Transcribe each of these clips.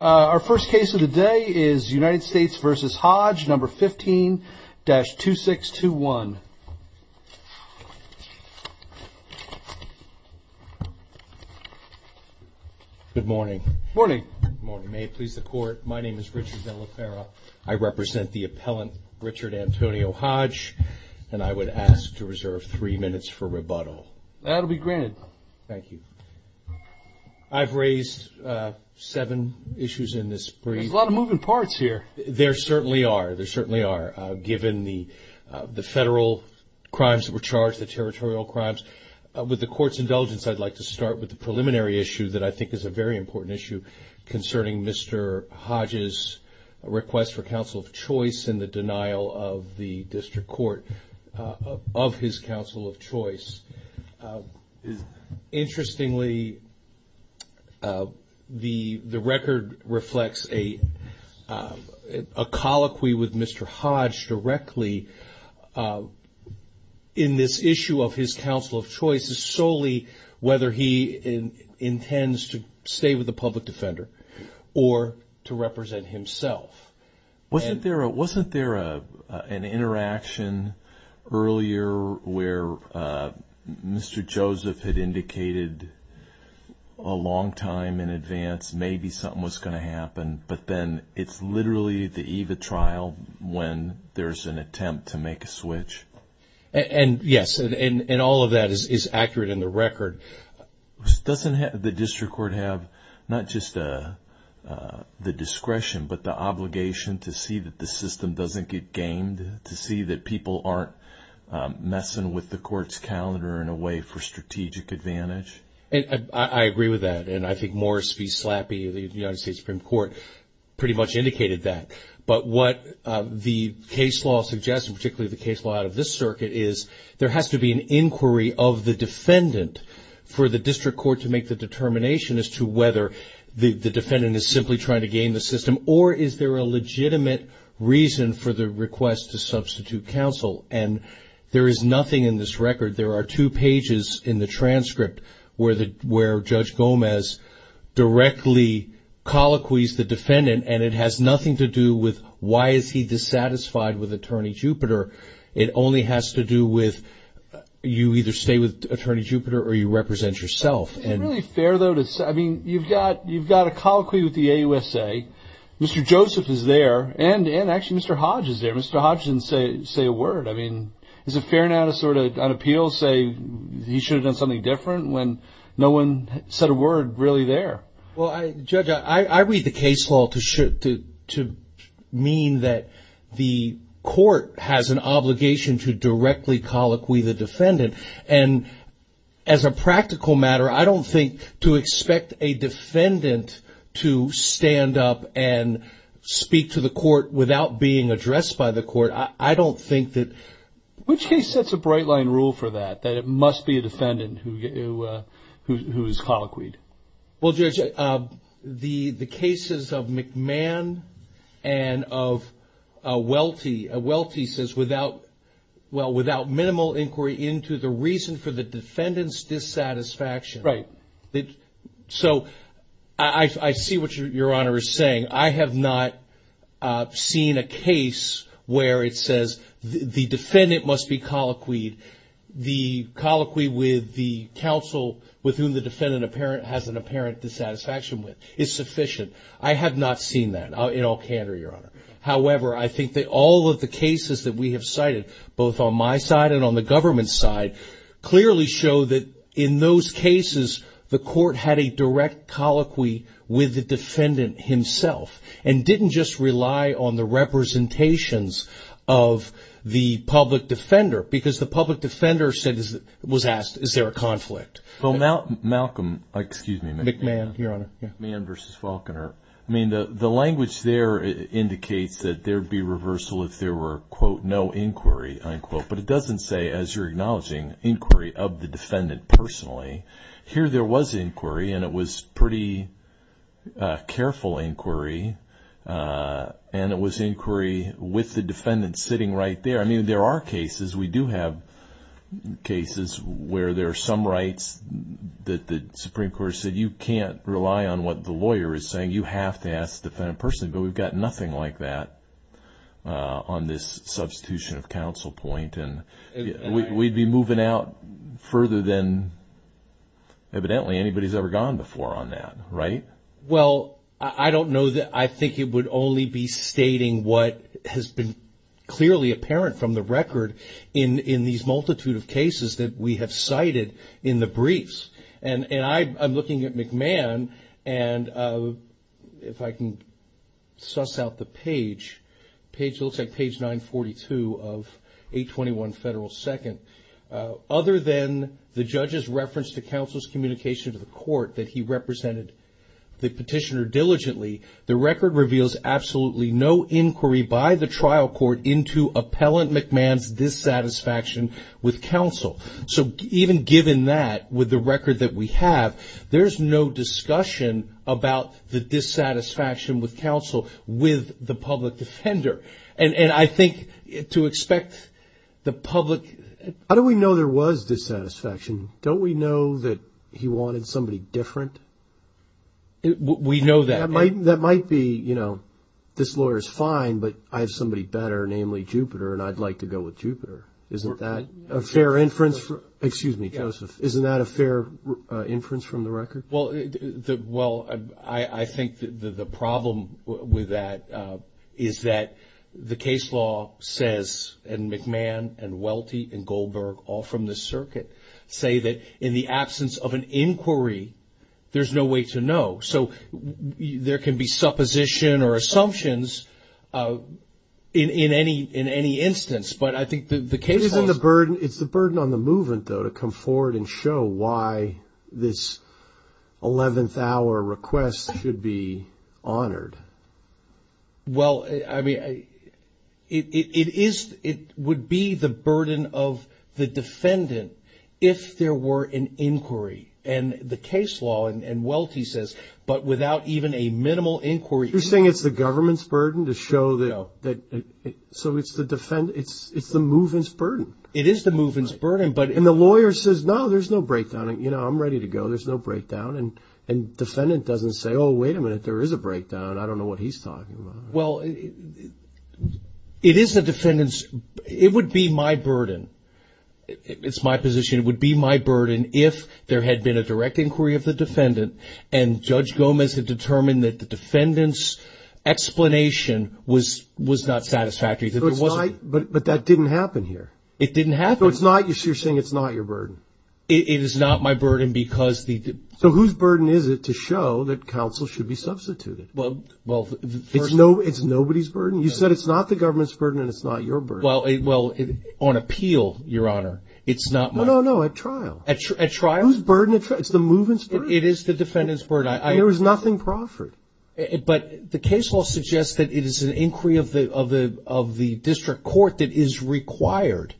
Our first case of the day is United States v. Hodge, No. 15-2621. Good morning. Good morning. May it please the Court, my name is Richard De La Fera. I represent the appellant, Richard Antonio Hodge, and I would ask to reserve three minutes for rebuttal. That will be granted. Thank you. I've raised seven issues in this brief. There's a lot of moving parts here. There certainly are. There certainly are, given the federal crimes that were charged, the territorial crimes. With the Court's indulgence, I'd like to start with the preliminary issue that I think is a very important issue concerning Mr. Hodge's request for counsel of choice in the denial of the district court of his counsel of choice. Interestingly, the record reflects a colloquy with Mr. Hodge directly in this issue of his counsel of choice, solely whether he intends to stay with the public defender or to represent himself. Wasn't there an interaction earlier where Mr. Joseph had indicated a long time in advance, maybe something was going to happen, but then it's literally the eve of trial when there's an attempt to make a switch? Yes, and all of that is accurate in the record. Doesn't the district court have not just the discretion but the obligation to see that the system doesn't get gamed, to see that people aren't messing with the Court's calendar in a way for strategic advantage? I agree with that, and I think Morris v. Slappy of the United States Supreme Court pretty much indicated that. But what the case law suggests, and particularly the case law out of this circuit, is there has to be an inquiry of the defendant for the district court to make the determination as to whether the defendant is simply trying to game the system, or is there a legitimate reason for the request to substitute counsel? And there is nothing in this record. There are two pages in the transcript where Judge Gomez directly colloquies the defendant, and it has nothing to do with why is he dissatisfied with Attorney Jupiter. It only has to do with you either stay with Attorney Jupiter or you represent yourself. Isn't it really fair, though, to say, I mean, you've got a colloquy with the AUSA. Mr. Joseph is there, and actually Mr. Hodge is there. Mr. Hodge didn't say a word. I mean, is it fair now to sort of on appeal say he should have done something different when no one said a word really there? Well, Judge, I read the case law to mean that the court has an obligation to directly colloquy the defendant. And as a practical matter, I don't think to expect a defendant to stand up and speak to the court without being addressed by the court, I don't think that... Which case sets a bright line rule for that, that it must be a defendant who is colloquied? Well, Judge, the cases of McMahon and of Welty. Welty says without, well, without minimal inquiry into the reason for the defendant's dissatisfaction. Right. So I see what Your Honor is saying. I have not seen a case where it says the defendant must be colloquied. The colloquy with the counsel with whom the defendant has an apparent dissatisfaction with is sufficient. I have not seen that in all candor, Your Honor. However, I think that all of the cases that we have cited, both on my side and on the government's side, clearly show that in those cases the court had a direct colloquy with the defendant himself and didn't just rely on the representations of the public defender because the public defender was asked, is there a conflict? Well, Malcolm, excuse me. McMahon, Your Honor. McMahon v. Faulconer. I mean, the language there indicates that there would be reversal if there were, quote, no inquiry, unquote. But it doesn't say, as you're acknowledging, inquiry of the defendant personally. Here there was inquiry and it was pretty careful inquiry and it was inquiry with the defendant sitting right there. I mean, there are cases, we do have cases where there are some rights that the Supreme Court said you can't rely on what the lawyer is saying, you have to ask the defendant personally. But we've got nothing like that on this substitution of counsel point. And we'd be moving out further than evidently anybody's ever gone before on that, right? Well, I don't know. I think it would only be stating what has been clearly apparent from the record in these multitude of cases that we have cited in the briefs. And I'm looking at McMahon, and if I can suss out the page, it looks like page 942 of 821 Federal 2nd. Other than the judge's reference to counsel's communication to the court that he represented the petitioner diligently, the record reveals absolutely no inquiry by the trial court into appellant McMahon's dissatisfaction with counsel. So even given that, with the record that we have, there's no discussion about the dissatisfaction with counsel with the public defender. And I think to expect the public... How do we know there was dissatisfaction? Don't we know that he wanted somebody different? We know that. That might be, you know, this lawyer's fine, but I have somebody better, namely Jupiter, and I'd like to go with Jupiter. Isn't that a fair inference? Excuse me, Joseph. Isn't that a fair inference from the record? Well, I think the problem with that is that the case law says, and McMahon and Welty and Goldberg, all from the circuit, say that in the absence of an inquiry, there's no way to know. So there can be supposition or assumptions in any instance, but I think the case law... It's the burden on the movement, though, to come forward and show why this 11th hour request should be honored. Well, I mean, it would be the burden of the defendant if there were an inquiry. And the case law, and Welty says, but without even a minimal inquiry... You're saying it's the government's burden to show that... So it's the movement's burden. It is the movement's burden, but... And the lawyer says, no, there's no breakdown. You know, I'm ready to go. There's no breakdown. And defendant doesn't say, oh, wait a minute, there is a breakdown. I don't know what he's talking about. Well, it is the defendant's... It would be my burden. It's my position. It would be my burden if there had been a direct inquiry of the defendant, and Judge Gomez had determined that the defendant's explanation was not satisfactory. But that didn't happen here. It didn't happen. So you're saying it's not your burden? It is not my burden because the... So whose burden is it to show that counsel should be substituted? Well... It's nobody's burden? You said it's not the government's burden and it's not your burden. Well, on appeal, Your Honor, it's not my... No, no, no, at trial. At trial? Whose burden? It's the movement's burden. It is the defendant's burden. And there was nothing proffered. But the case law suggests that it is an inquiry of the district court that is required.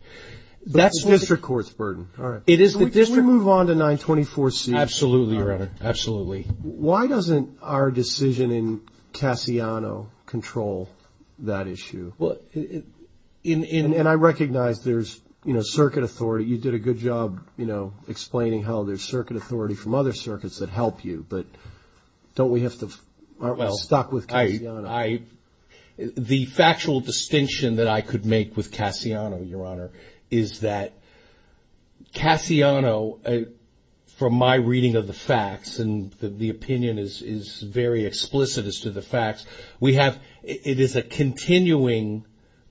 That's the district court's burden. All right. It is the district... Can we move on to 924C? Absolutely, Your Honor. Absolutely. Why doesn't our decision in Cassiano control that issue? Well, it... And I recognize there's, you know, circuit authority. You did a good job, you know, explaining how there's circuit authority from other circuits that help you. But don't we have to... Aren't we stuck with Cassiano? The factual distinction that I could make with Cassiano, Your Honor, is that Cassiano, from my reading of the facts, and the opinion is very explicit as to the facts, we have... It is a continuing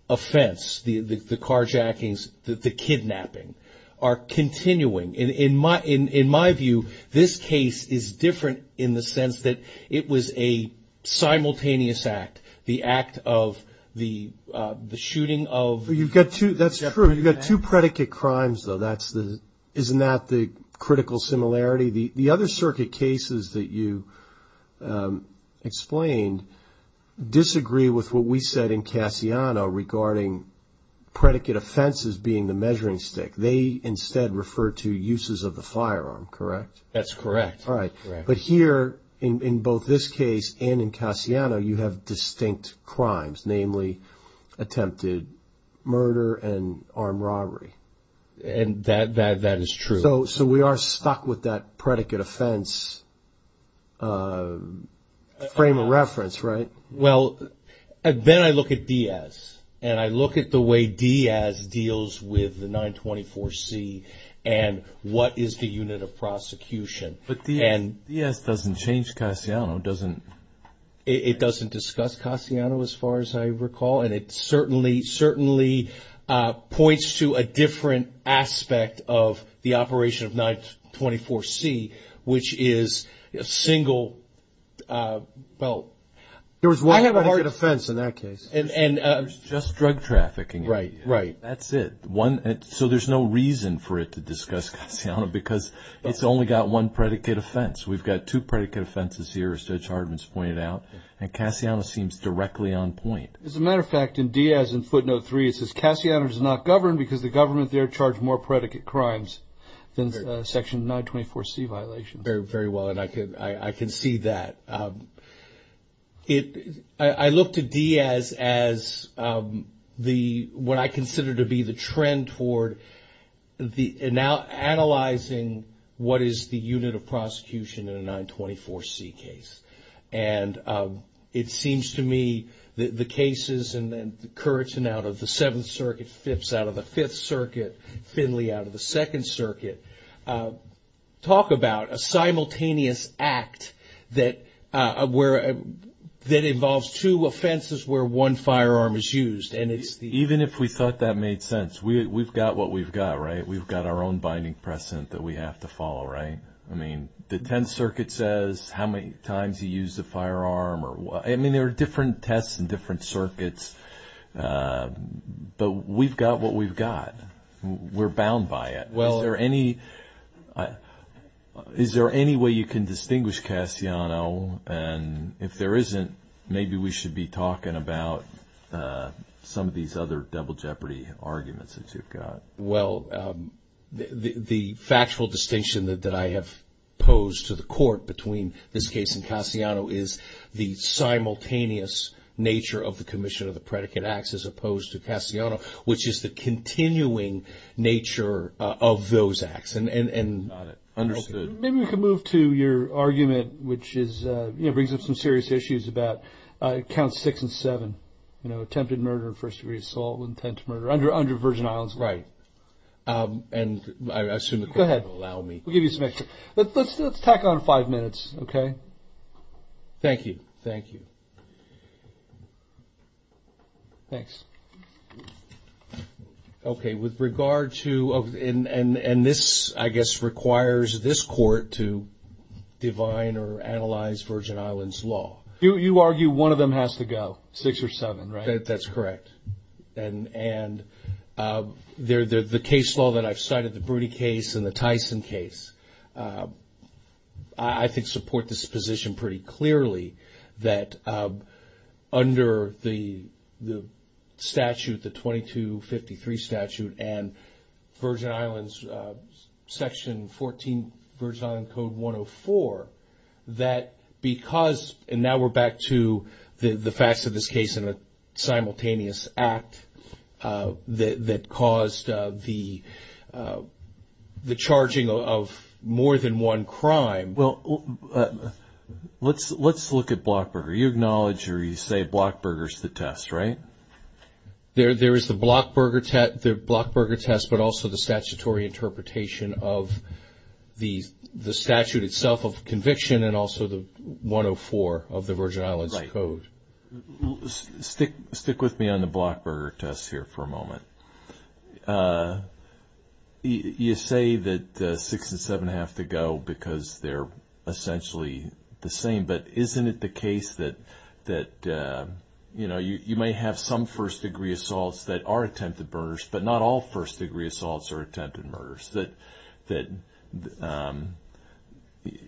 offense, the carjackings, the kidnapping, are continuing. In my view, this case is different in the sense that it was a simultaneous act, the act of the shooting of... That's true. You've got two predicate crimes, though. Isn't that the critical similarity? The other circuit cases that you explained disagree with what we said in Cassiano regarding predicate offenses being the measuring stick. They instead refer to uses of the firearm, correct? That's correct. All right. But here, in both this case and in Cassiano, you have distinct crimes, namely attempted murder and armed robbery. And that is true. So we are stuck with that predicate offense frame of reference, right? Well, then I look at Diaz. And I look at the way Diaz deals with the 924-C and what is the unit of prosecution. But Diaz doesn't change Cassiano, doesn't... It doesn't discuss Cassiano, as far as I recall, and it certainly points to a different aspect of the operation of 924-C, which is a single, well... I have a hard defense in that case. It's just drug trafficking. Right, right. That's it. So there's no reason for it to discuss Cassiano because it's only got one predicate offense. We've got two predicate offenses here, as Judge Hartman has pointed out, and Cassiano seems directly on point. As a matter of fact, in Diaz in footnote 3, it says, Cassiano does not govern because the government there charged more predicate crimes than the section 924-C violations. Very well, and I can see that. I look to Diaz as what I consider to be the trend toward analyzing what is the unit of prosecution in a 924-C case. And it seems to me that the cases, and then Curtin out of the Seventh Circuit, Phipps out of the Fifth Circuit, Finley out of the Second Circuit, talk about a simultaneous act that involves two offenses where one firearm is used. Even if we thought that made sense. We've got what we've got, right? We've got our own binding precedent that we have to follow, right? I mean, the Tenth Circuit says how many times you use a firearm. I mean, there are different tests in different circuits, but we've got what we've got. We're bound by it. Is there any way you can distinguish Cassiano? And if there isn't, maybe we should be talking about some of these other double jeopardy arguments that you've got. Well, the factual distinction that I have posed to the court between this case and Cassiano is the simultaneous nature of the commission of the predicate acts as opposed to Cassiano, which is the continuing nature of those acts. Got it. Understood. Maybe we can move to your argument, which brings up some serious issues about Counts 6 and 7, attempted murder, first-degree assault, intent to murder, under Virgin Islands law. Right. And I assume the court will allow me. Go ahead. We'll give you some extra. Let's tack on five minutes, okay? Thank you. Thank you. Thanks. Okay, with regard to – and this, I guess, requires this court to divine or analyze Virgin Islands law. You argue one of them has to go, 6 or 7, right? That's correct. And the case law that I've cited, the Broody case and the Tyson case, I think support this position pretty clearly that under the statute, the 2253 statute and Virgin Islands, Section 14, Virgin Islands Code 104, that because – and now we're back to the facts of this case and a simultaneous act that caused the charging of more than one crime. Well, let's look at Blockburger. You acknowledge or you say Blockburger's the test, right? There is the Blockburger test, but also the statutory interpretation of the statute itself of conviction and also the 104 of the Virgin Islands Code. Right. Stick with me on the Blockburger test here for a moment. You say that 6 and 7 have to go because they're essentially the same, but isn't it the case that, you know, you may have some first-degree assaults that are attempted murders, but not all first-degree assaults are attempted murders, that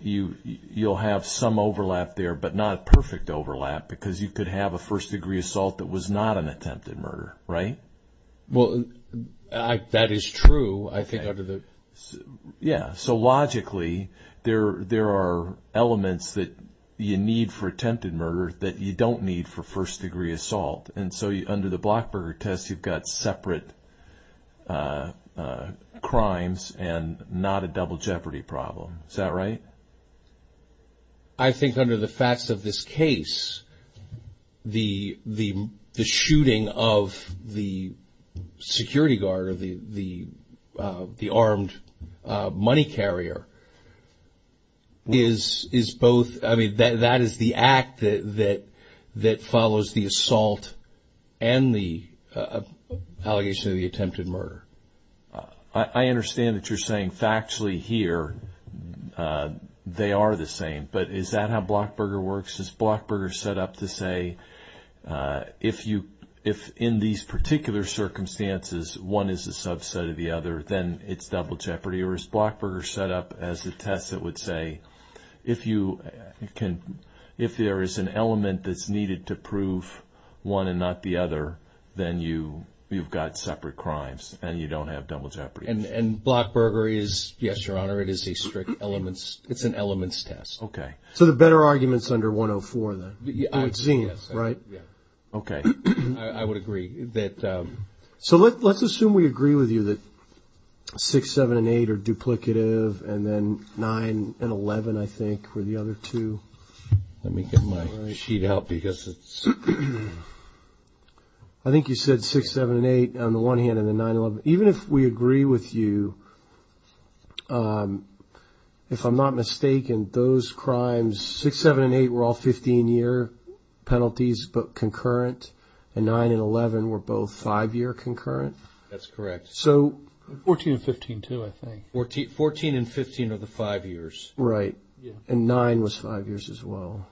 you'll have some overlap there, but not perfect overlap because you could have a first-degree assault that was not an attempted murder, right? Well, that is true, I think, under the – Yeah. So logically, there are elements that you need for attempted murder that you don't need for first-degree assault. And so under the Blockburger test, you've got separate crimes and not a double jeopardy problem. Is that right? I think under the facts of this case, the shooting of the security guard or the armed money carrier is both – that follows the assault and the allegation of the attempted murder. I understand that you're saying factually here they are the same, but is that how Blockburger works? Is Blockburger set up to say if in these particular circumstances, one is a subset of the other, then it's double jeopardy? There is Blockburger set up as a test that would say if you can – if there is an element that's needed to prove one and not the other, then you've got separate crimes and you don't have double jeopardy. And Blockburger is – yes, Your Honor, it is a strict elements – it's an elements test. Okay. So the better argument is under 104, then? Yes. Right? Yeah. Okay. I would agree that – So let's assume we agree with you that 6, 7, and 8 are duplicative, and then 9 and 11, I think, were the other two. Let me get my sheet out because it's – I think you said 6, 7, and 8 on the one hand and the 9, 11. Even if we agree with you, if I'm not mistaken, those crimes – 6, 7, and 8 were all 15-year penalties but concurrent, and 9 and 11 were both 5-year concurrent? That's correct. So – 14 and 15 too, I think. 14 and 15 are the 5 years. Right. And 9 was 5 years as well.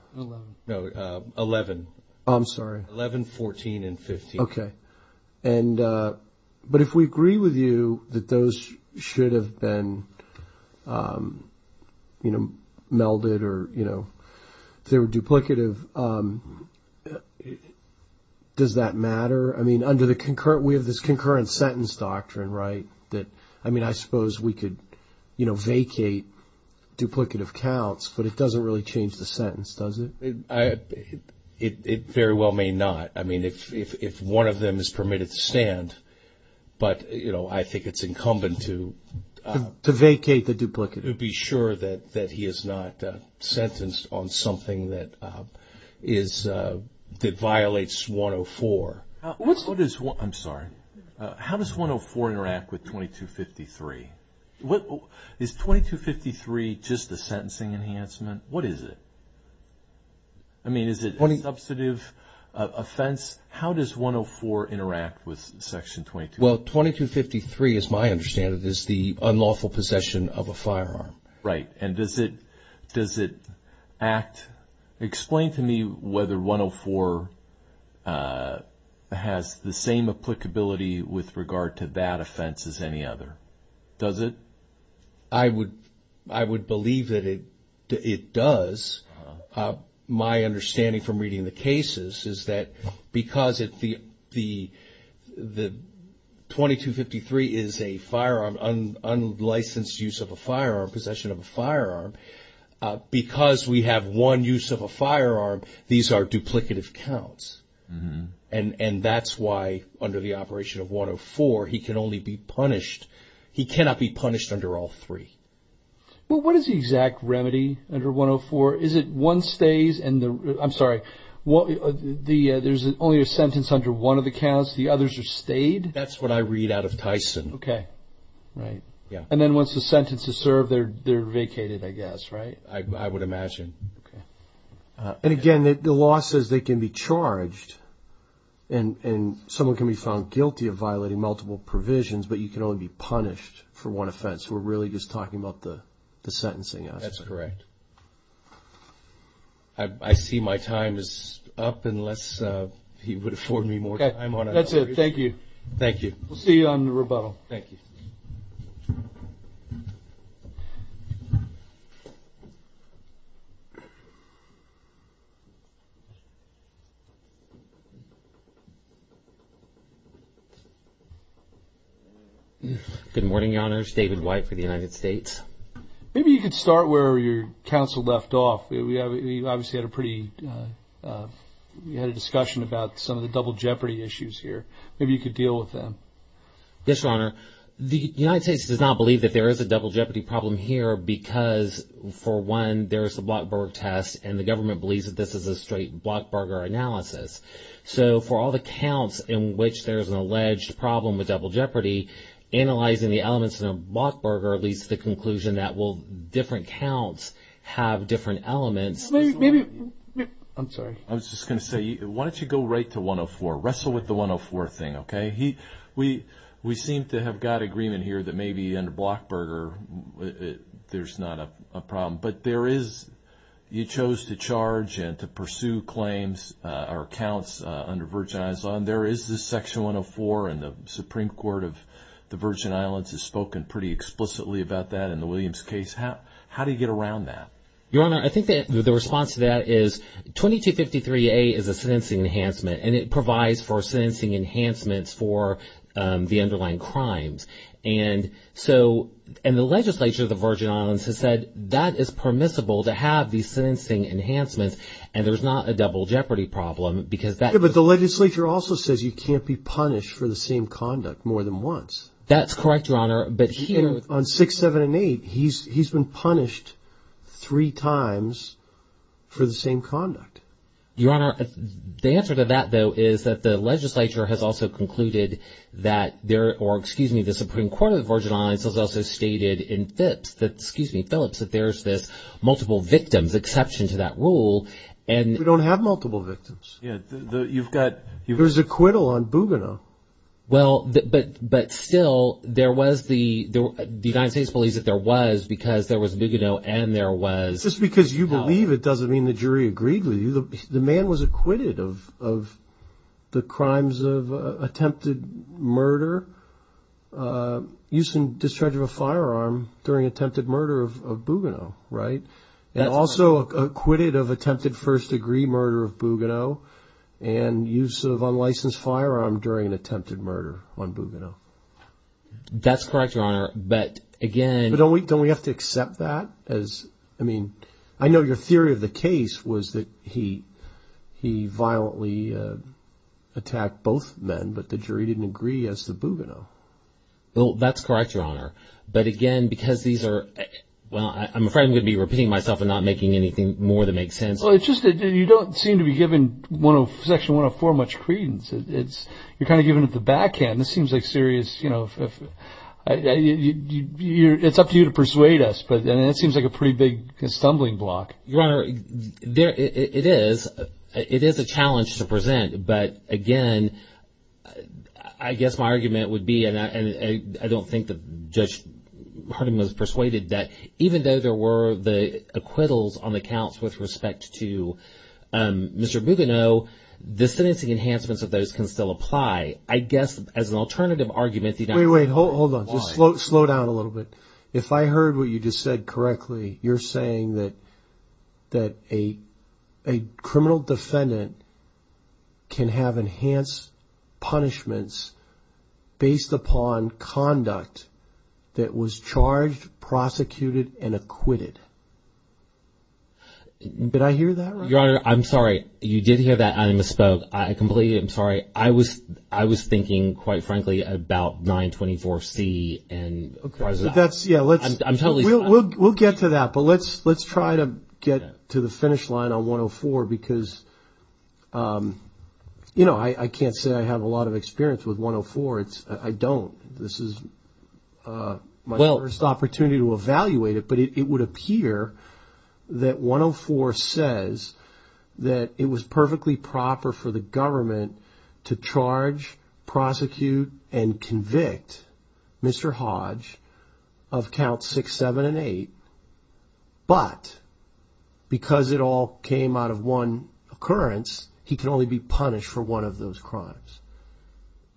No, 11. I'm sorry. 11, 14, and 15. Okay. But if we agree with you that those should have been melded or they were duplicative, does that matter? I mean, under the concurrent – we have this concurrent sentence doctrine, right? I mean, I suppose we could vacate duplicative counts, but it doesn't really change the sentence, does it? It very well may not. I mean, if one of them is permitted to stand, but, you know, I think it's incumbent to – To vacate the duplicative. To be sure that he is not sentenced on something that violates 104. I'm sorry. How does 104 interact with 2253? Is 2253 just the sentencing enhancement? What is it? I mean, is it a substantive offense? How does 104 interact with Section 2253? Well, 2253, as my understanding, is the unlawful possession of a firearm. Right. And does it act – explain to me whether 104 has the same applicability with regard to that offense as any other. Does it? I would believe that it does. My understanding from reading the cases is that because the 2253 is a firearm, unlicensed use of a firearm, possession of a firearm, because we have one use of a firearm, these are duplicative counts. And that's why under the operation of 104, he can only be punished. He cannot be punished under all three. Well, what is the exact remedy under 104? Is it one stays and the – I'm sorry, there's only a sentence under one of the counts, the others are stayed? That's what I read out of Tyson. Okay. Right. Yeah. And then once the sentence is served, they're vacated, I guess, right? I would imagine. Okay. And, again, the law says they can be charged and someone can be found guilty of violating multiple provisions, but you can only be punished for one offense. We're really just talking about the sentencing aspect. That's correct. I see my time is up unless he would afford me more time on it. That's it. Thank you. Thank you. We'll see you on the rebuttal. Thank you. Good morning, Your Honors. David White for the United States. Maybe you could start where your counsel left off. We obviously had a pretty – we had a discussion about some of the double jeopardy issues here. Maybe you could deal with them. Yes, Your Honor. The United States does not believe that there is a double jeopardy problem here because, for one, there is the Blockberger test and the government believes that this is a straight Blockberger analysis. So for all the counts in which there is an alleged problem with double jeopardy, analyzing the elements in a Blockberger leads to the conclusion that, well, different counts have different elements. Maybe – I'm sorry. I was just going to say, why don't you go right to 104? Wrestle with the 104 thing, okay? We seem to have got agreement here that maybe under Blockberger there's not a problem, but there is – you chose to charge and to pursue claims or counts under Virginia's law, and there is this section 104, and the Supreme Court of the Virgin Islands has spoken pretty explicitly about that in the Williams case. How do you get around that? Your Honor, I think that the response to that is 2253A is a sentencing enhancement, and it provides for sentencing enhancements for the underlying crimes. And so – and the legislature of the Virgin Islands has said that is permissible to have these sentencing enhancements, and there's not a double jeopardy problem because that – Yeah, but the legislature also says you can't be punished for the same conduct more than once. That's correct, Your Honor, but here – On 6, 7, and 8, he's been punished three times for the same conduct. Your Honor, the answer to that, though, is that the legislature has also concluded that there – or, excuse me, the Supreme Court of the Virgin Islands has also stated in Phillips that – excuse me, Phillips, that there's this multiple victims exception to that rule, and – But we don't have multiple victims. Yeah, you've got – There's acquittal on Bougainville. Well, but still, there was the – the United States believes that there was because there was Bougainville and there was – Just because you believe it doesn't mean the jury agreed with you. The man was acquitted of the crimes of attempted murder, use and discharge of a firearm during attempted murder of Bougainville, right? And also acquitted of attempted first-degree murder of Bougainville and use of unlicensed firearm during an attempted murder on Bougainville. That's correct, Your Honor, but again – But don't we have to accept that as – I mean, I know your theory of the case was that he violently attacked both men, but the jury didn't agree as to Bougainville. Well, that's correct, Your Honor, but again, because these are – Well, I'm afraid I'm going to be repeating myself and not making anything more that makes sense. Well, it's just that you don't seem to be giving Section 104 much credence. You're kind of giving it the backhand. This seems like serious – It's up to you to persuade us, but it seems like a pretty big stumbling block. Your Honor, it is a challenge to present, but again, I guess my argument would be – I don't think that Judge Hardeman was persuaded that even though there were the acquittals on the counts with respect to Mr. Bougainville, the sentencing enhancements of those can still apply. I guess as an alternative argument – Wait, wait, hold on. Slow down a little bit. If I heard what you just said correctly, you're saying that a criminal defendant can have enhanced punishments based upon conduct that was charged, prosecuted, and acquitted. Did I hear that right? Your Honor, I'm sorry. You did hear that and I misspoke. I completely – I'm sorry. I was thinking, quite frankly, about 924C and – Okay. I'm totally fine. We'll get to that, but let's try to get to the finish line on 104 because – I can't say I have a lot of experience with 104. I don't. This is my first opportunity to evaluate it, but it would appear that 104 says that it was perfectly proper for the government to charge, prosecute, and convict Mr. Hodge of counts 6, 7, and 8, but because it all came out of one occurrence, he can only be punished for one of those crimes.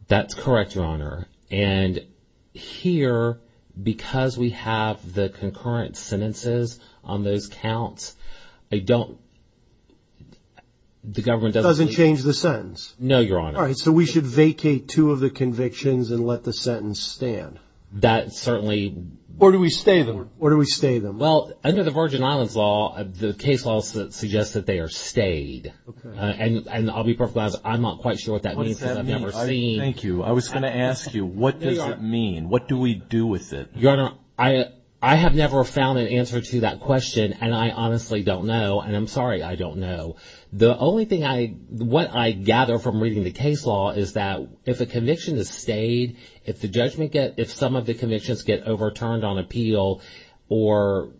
That's correct, Your Honor. And here, because we have the concurrent sentences on those counts, I don't – the government doesn't – It doesn't change the sentence. No, Your Honor. All right, so we should vacate two of the convictions and let the sentence stand. That certainly – Or do we stay the – Or do we stay them? Well, under the Virgin Islands Law, the case law suggests that they are stayed. Okay. And I'll be perfectly honest. I'm not quite sure what that means because I've never seen – What does that mean? Thank you. I was going to ask you, what does it mean? There you are. What do we do with it? Your Honor, I have never found an answer to that question, and I honestly don't know, and I'm sorry I don't know. The only thing I – what I gather from reading the case law is that if a conviction is stayed, if the judgment – if some of the convictions get overturned on appeal or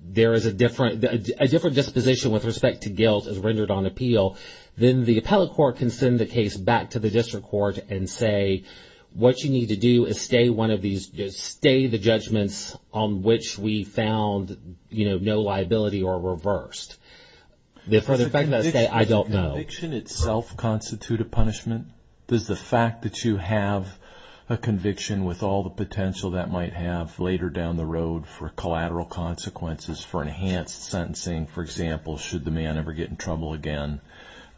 there is a different – a different disposition with respect to guilt is rendered on appeal, then the appellate court can send the case back to the district court and say what you need to do is stay one of these – stay the judgments on which we found, you know, no liability or reversed. The further effect of that stay, I don't know. Does the conviction itself constitute a punishment? Does the fact that you have a conviction with all the potential that might have later down the road for collateral consequences for enhanced sentencing, for example, should the man ever get in trouble again,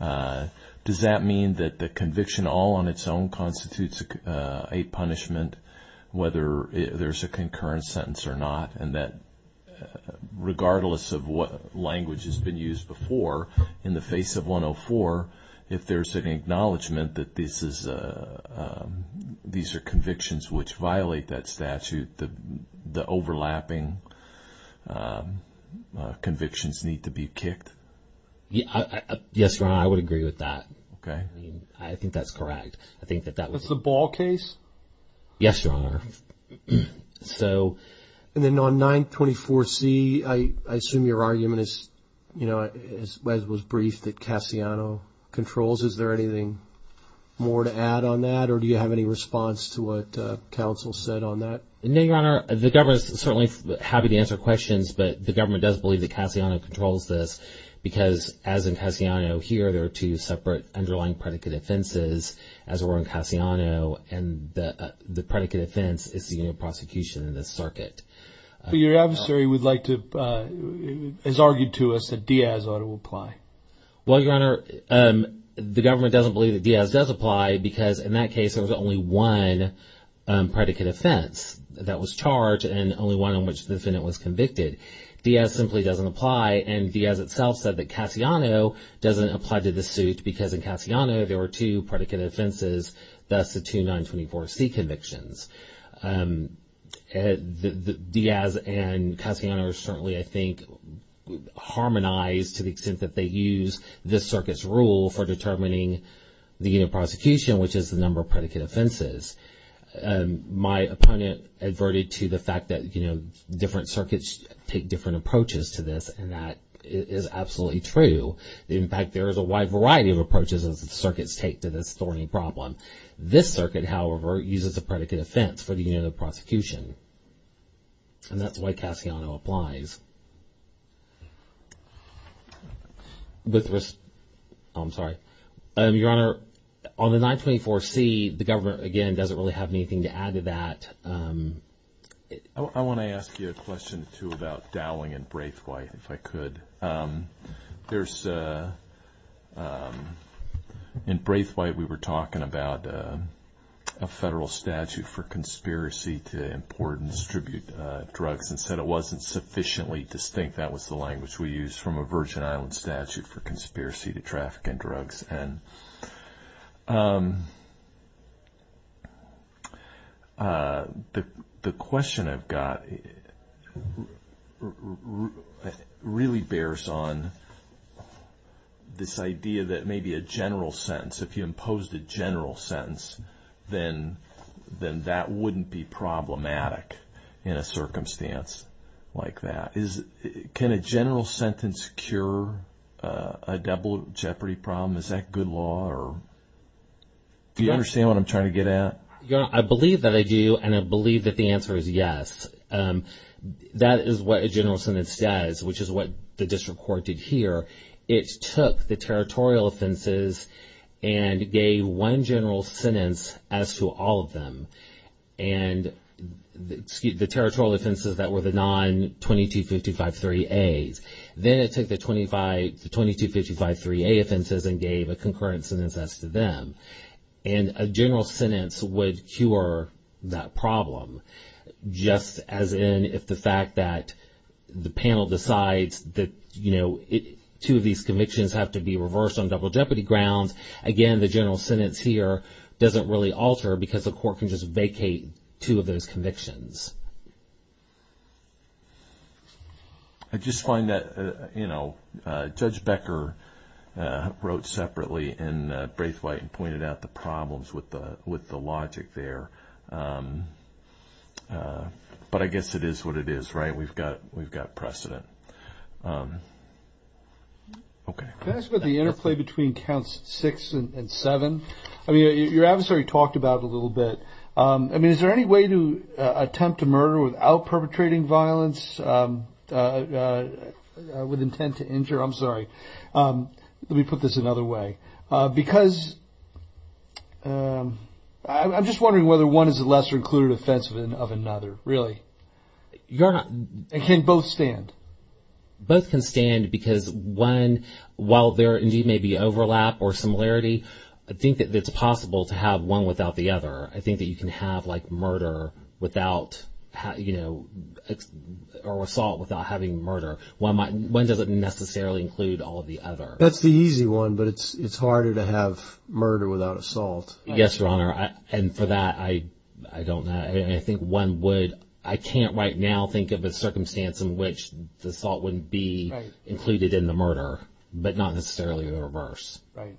does that mean that the conviction all on its own constitutes a punishment whether there's a concurrent sentence or not, and that regardless of what language has been used before in the face of 104, if there's an acknowledgment that these are convictions which violate that statute, the overlapping convictions need to be kicked? Yes, Your Honor, I would agree with that. Okay. I think that's correct. I think that that was – That's the Ball case? Yes, Your Honor. And then on 924C, I assume your argument is, you know, as was briefed that Cassiano controls. Is there anything more to add on that, or do you have any response to what counsel said on that? No, Your Honor. The government is certainly happy to answer questions, but the government does believe that Cassiano controls this because as in Cassiano here, there are two separate underlying predicate offenses as were in Cassiano, and the predicate offense is the union prosecution in this circuit. But your adversary would like to – has argued to us that Diaz ought to apply. Well, Your Honor, the government doesn't believe that Diaz does apply because in that case there was only one predicate offense that was charged and only one on which the defendant was convicted. Diaz simply doesn't apply, and Diaz itself said that Cassiano doesn't apply to the suit because in Cassiano there were two predicate offenses, thus the two 924C convictions. Diaz and Cassiano are certainly, I think, harmonized to the extent that they use this circuit's rule for determining the union prosecution, which is the number of predicate offenses. My opponent adverted to the fact that, you know, different circuits take different approaches to this, and that is absolutely true. In fact, there is a wide variety of approaches that circuits take to this thorny problem. This circuit, however, uses a predicate offense for the union prosecution, and that's why Cassiano applies. With respect – oh, I'm sorry. Your Honor, on the 924C, the government, again, doesn't really have anything to add to that. I want to ask you a question too about Dowling and Braithwaite, if I could. There's – in Braithwaite we were talking about a federal statute for conspiracy to import and distribute drugs and said it wasn't sufficiently distinct. That was the language we used from a Virgin Islands statute for conspiracy to traffic in drugs. And the question I've got really bears on this idea that maybe a general sentence, if you imposed a general sentence, then that wouldn't be problematic in a circumstance like that. Can a general sentence cure a double jeopardy problem? Is that good law? Do you understand what I'm trying to get at? Your Honor, I believe that I do, and I believe that the answer is yes. That is what a general sentence does, which is what the district court did here. It took the territorial offenses and gave one general sentence as to all of them. And the territorial offenses that were the non-2255-3As. Then it took the 2255-3A offenses and gave a concurrent sentence as to them. And a general sentence would cure that problem, just as in if the fact that the panel decides that, you know, two of these convictions have to be reversed on double jeopardy grounds. Again, the general sentence here doesn't really alter because the court can just vacate two of those convictions. I just find that, you know, Judge Becker wrote separately and Braithwaite pointed out the problems with the logic there. But I guess it is what it is, right? We've got precedent. Okay. Can I ask about the interplay between counts six and seven? I mean, your adversary talked about it a little bit. I mean, is there any way to attempt to murder without perpetrating violence with intent to injure? I'm sorry. Let me put this another way. Because I'm just wondering whether one is a lesser-included offense of another, really. Your Honor, can both stand? Both can stand because one, while there indeed may be overlap or similarity, I think that it's possible to have one without the other. I think that you can have, like, murder without, you know, or assault without having murder. One doesn't necessarily include all of the others. That's the easy one, but it's harder to have murder without assault. Yes, Your Honor. And for that, I don't know. I think one would – I can't right now think of a circumstance in which the assault wouldn't be included in the murder, but not necessarily the reverse. Right.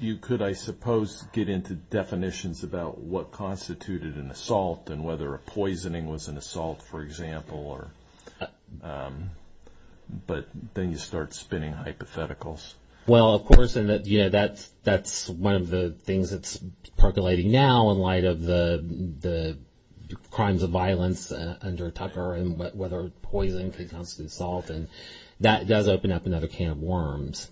You could, I suppose, get into definitions about what constituted an assault and whether a poisoning was an assault, for example. But then you start spinning hypotheticals. Well, of course, and, you know, that's one of the things that's percolating now in light of the crimes of violence under Tucker and whether poison constitutes assault, and that does open up another can of worms.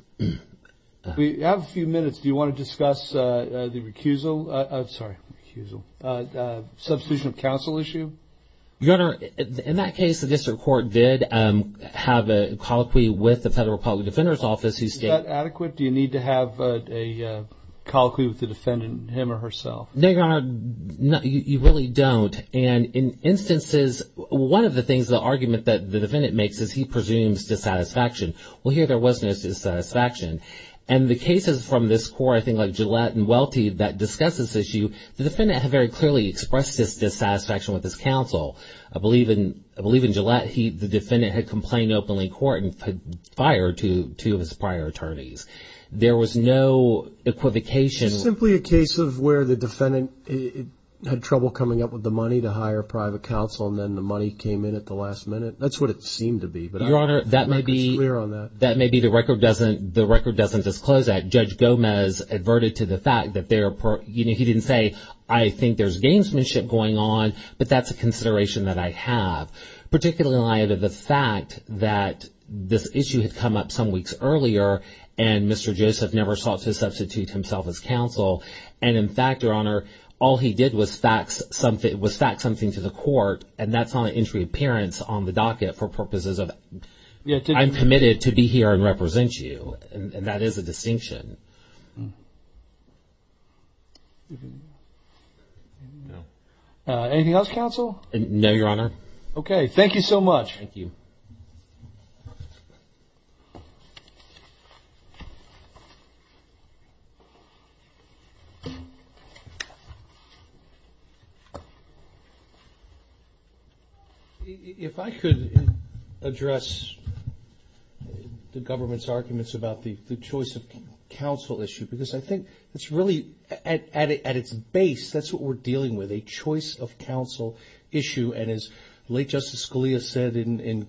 We have a few minutes. Do you want to discuss the recusal – sorry, recusal – substitution of counsel issue? Your Honor, in that case, the district court did have a colloquy with the Federal Public Defender's Office Is that adequate? Do you need to have a colloquy with the defendant, him or herself? No, Your Honor, you really don't. And in instances, one of the things, the argument that the defendant makes is he presumes dissatisfaction. Well, here there was no dissatisfaction. And the cases from this court, I think, like Gillette and Welty that discuss this issue, the defendant had very clearly expressed this dissatisfaction with his counsel. I believe in Gillette, the defendant had complained openly in court and had fired two of his prior attorneys. There was no equivocation. Is this simply a case of where the defendant had trouble coming up with the money to hire private counsel and then the money came in at the last minute? That's what it seemed to be, but I'm not clear on that. Your Honor, that may be the record doesn't disclose that. Judge Gomez adverted to the fact that they're – you know, he didn't say, I think there's gamesmanship going on, but that's a consideration that I have, particularly in light of the fact that this issue had come up some weeks earlier and Mr. Joseph never sought to substitute himself as counsel. And, in fact, Your Honor, all he did was fax something to the court, and that's not an entry appearance on the docket for purposes of I'm committed to be here and represent you. And that is a distinction. Anything else, counsel? No, Your Honor. Okay. Thank you so much. Thank you. If I could address the government's arguments about the choice of counsel issue, because I think it's really at its base, that's what we're dealing with, a choice of counsel issue. And as late Justice Scalia said in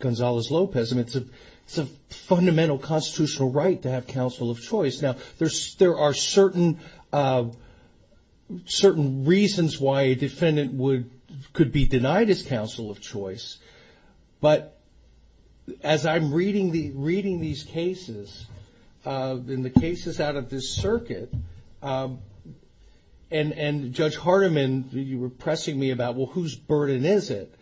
Gonzales-Lopez, it's a fundamental constitutional right to have counsel of choice. Now, there are certain reasons why a defendant could be denied his counsel of choice, but as I'm reading these cases and the cases out of this circuit, and Judge Hardiman, you were pressing me about, well, whose burden is it?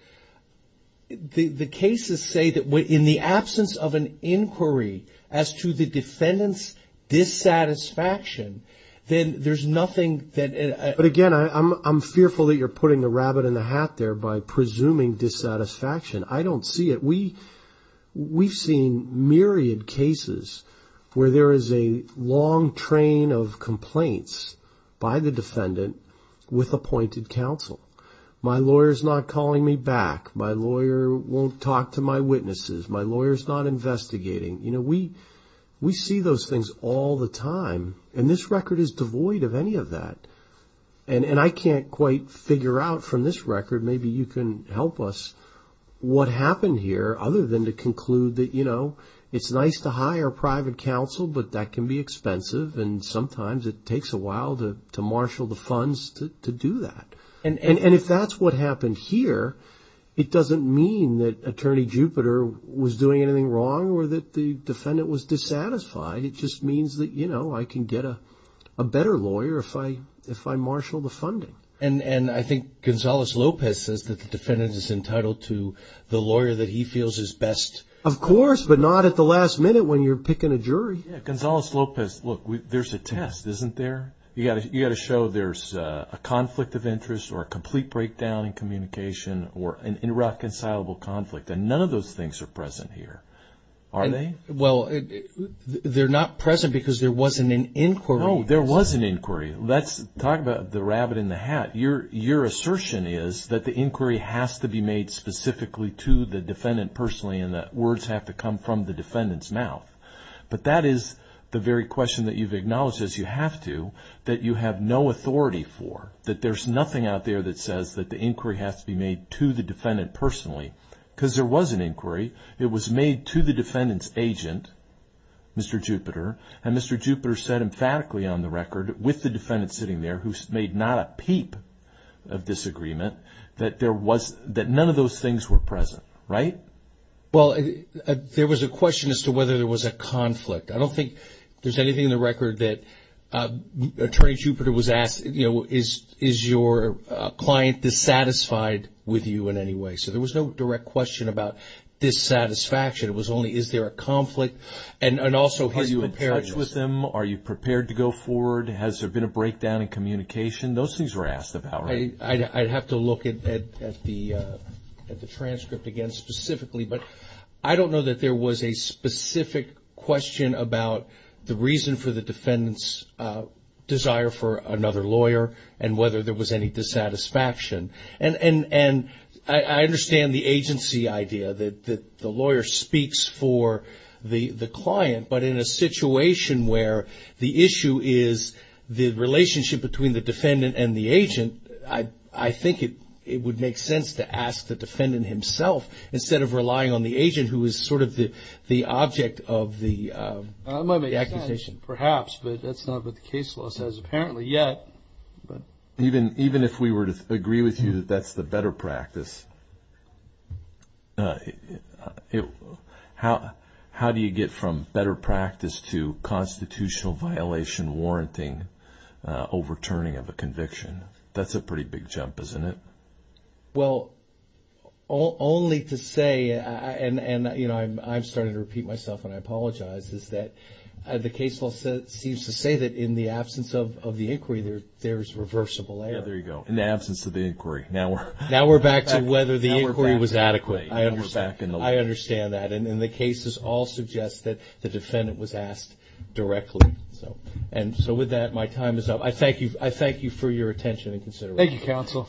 The cases say that in the absence of an inquiry as to the defendant's dissatisfaction, then there's nothing that ---- But, again, I'm fearful that you're putting the rabbit in the hat there by presuming dissatisfaction. I don't see it. We've seen myriad cases where there is a long train of complaints by the defendant with appointed counsel. My lawyer's not calling me back. My lawyer won't talk to my witnesses. My lawyer's not investigating. We see those things all the time, and this record is devoid of any of that. And I can't quite figure out from this record, maybe you can help us what happened here other than to conclude that, you know, it's nice to hire private counsel, but that can be expensive, and sometimes it takes a while to marshal the funds to do that. And if that's what happened here, it doesn't mean that Attorney Jupiter was doing anything wrong or that the defendant was dissatisfied. It just means that, you know, I can get a better lawyer if I marshal the funding. And I think Gonzales-Lopez says that the defendant is entitled to the lawyer that he feels is best. Of course, but not at the last minute when you're picking a jury. Yeah, Gonzales-Lopez, look, there's a test, isn't there? You've got to show there's a conflict of interest or a complete breakdown in communication or an irreconcilable conflict, and none of those things are present here, are they? Well, they're not present because there wasn't an inquiry. No, there was an inquiry. Let's talk about the rabbit in the hat. Your assertion is that the inquiry has to be made specifically to the defendant personally and that words have to come from the defendant's mouth. But that is the very question that you've acknowledged as you have to, that you have no authority for, that there's nothing out there that says that the inquiry has to be made to the defendant personally because there was an inquiry. It was made to the defendant's agent, Mr. Jupiter, and Mr. Jupiter said emphatically on the record with the defendant sitting there who made not a peep of disagreement that none of those things were present, right? Well, there was a question as to whether there was a conflict. I don't think there's anything in the record that Attorney Jupiter was asked, you know, is your client dissatisfied with you in any way? So there was no direct question about dissatisfaction. It was only is there a conflict and also his preparedness. Are you in touch with him? Are you prepared to go forward? Has there been a breakdown in communication? Those things were asked about, right? I'd have to look at the transcript again specifically, but I don't know that there was a specific question about the reason for the defendant's desire for another lawyer and whether there was any dissatisfaction. And I understand the agency idea that the lawyer speaks for the client, but in a situation where the issue is the relationship between the defendant and the agent, I think it would make sense to ask the defendant himself instead of relying on the agent, who is sort of the object of the accusation. That might make sense perhaps, but that's not what the case law says apparently yet. Even if we were to agree with you that that's the better practice, how do you get from better practice to constitutional violation warranting overturning of a conviction? That's a pretty big jump, isn't it? Well, only to say, and, you know, I'm starting to repeat myself and I apologize, is that the case law seems to say that in the absence of the inquiry there's reversible error. Yeah, there you go, in the absence of the inquiry. Now we're back to whether the inquiry was adequate. I understand that, and the cases all suggest that the defendant was asked directly. And so with that, my time is up. I thank you for your attention and consideration. Thank you, counsel.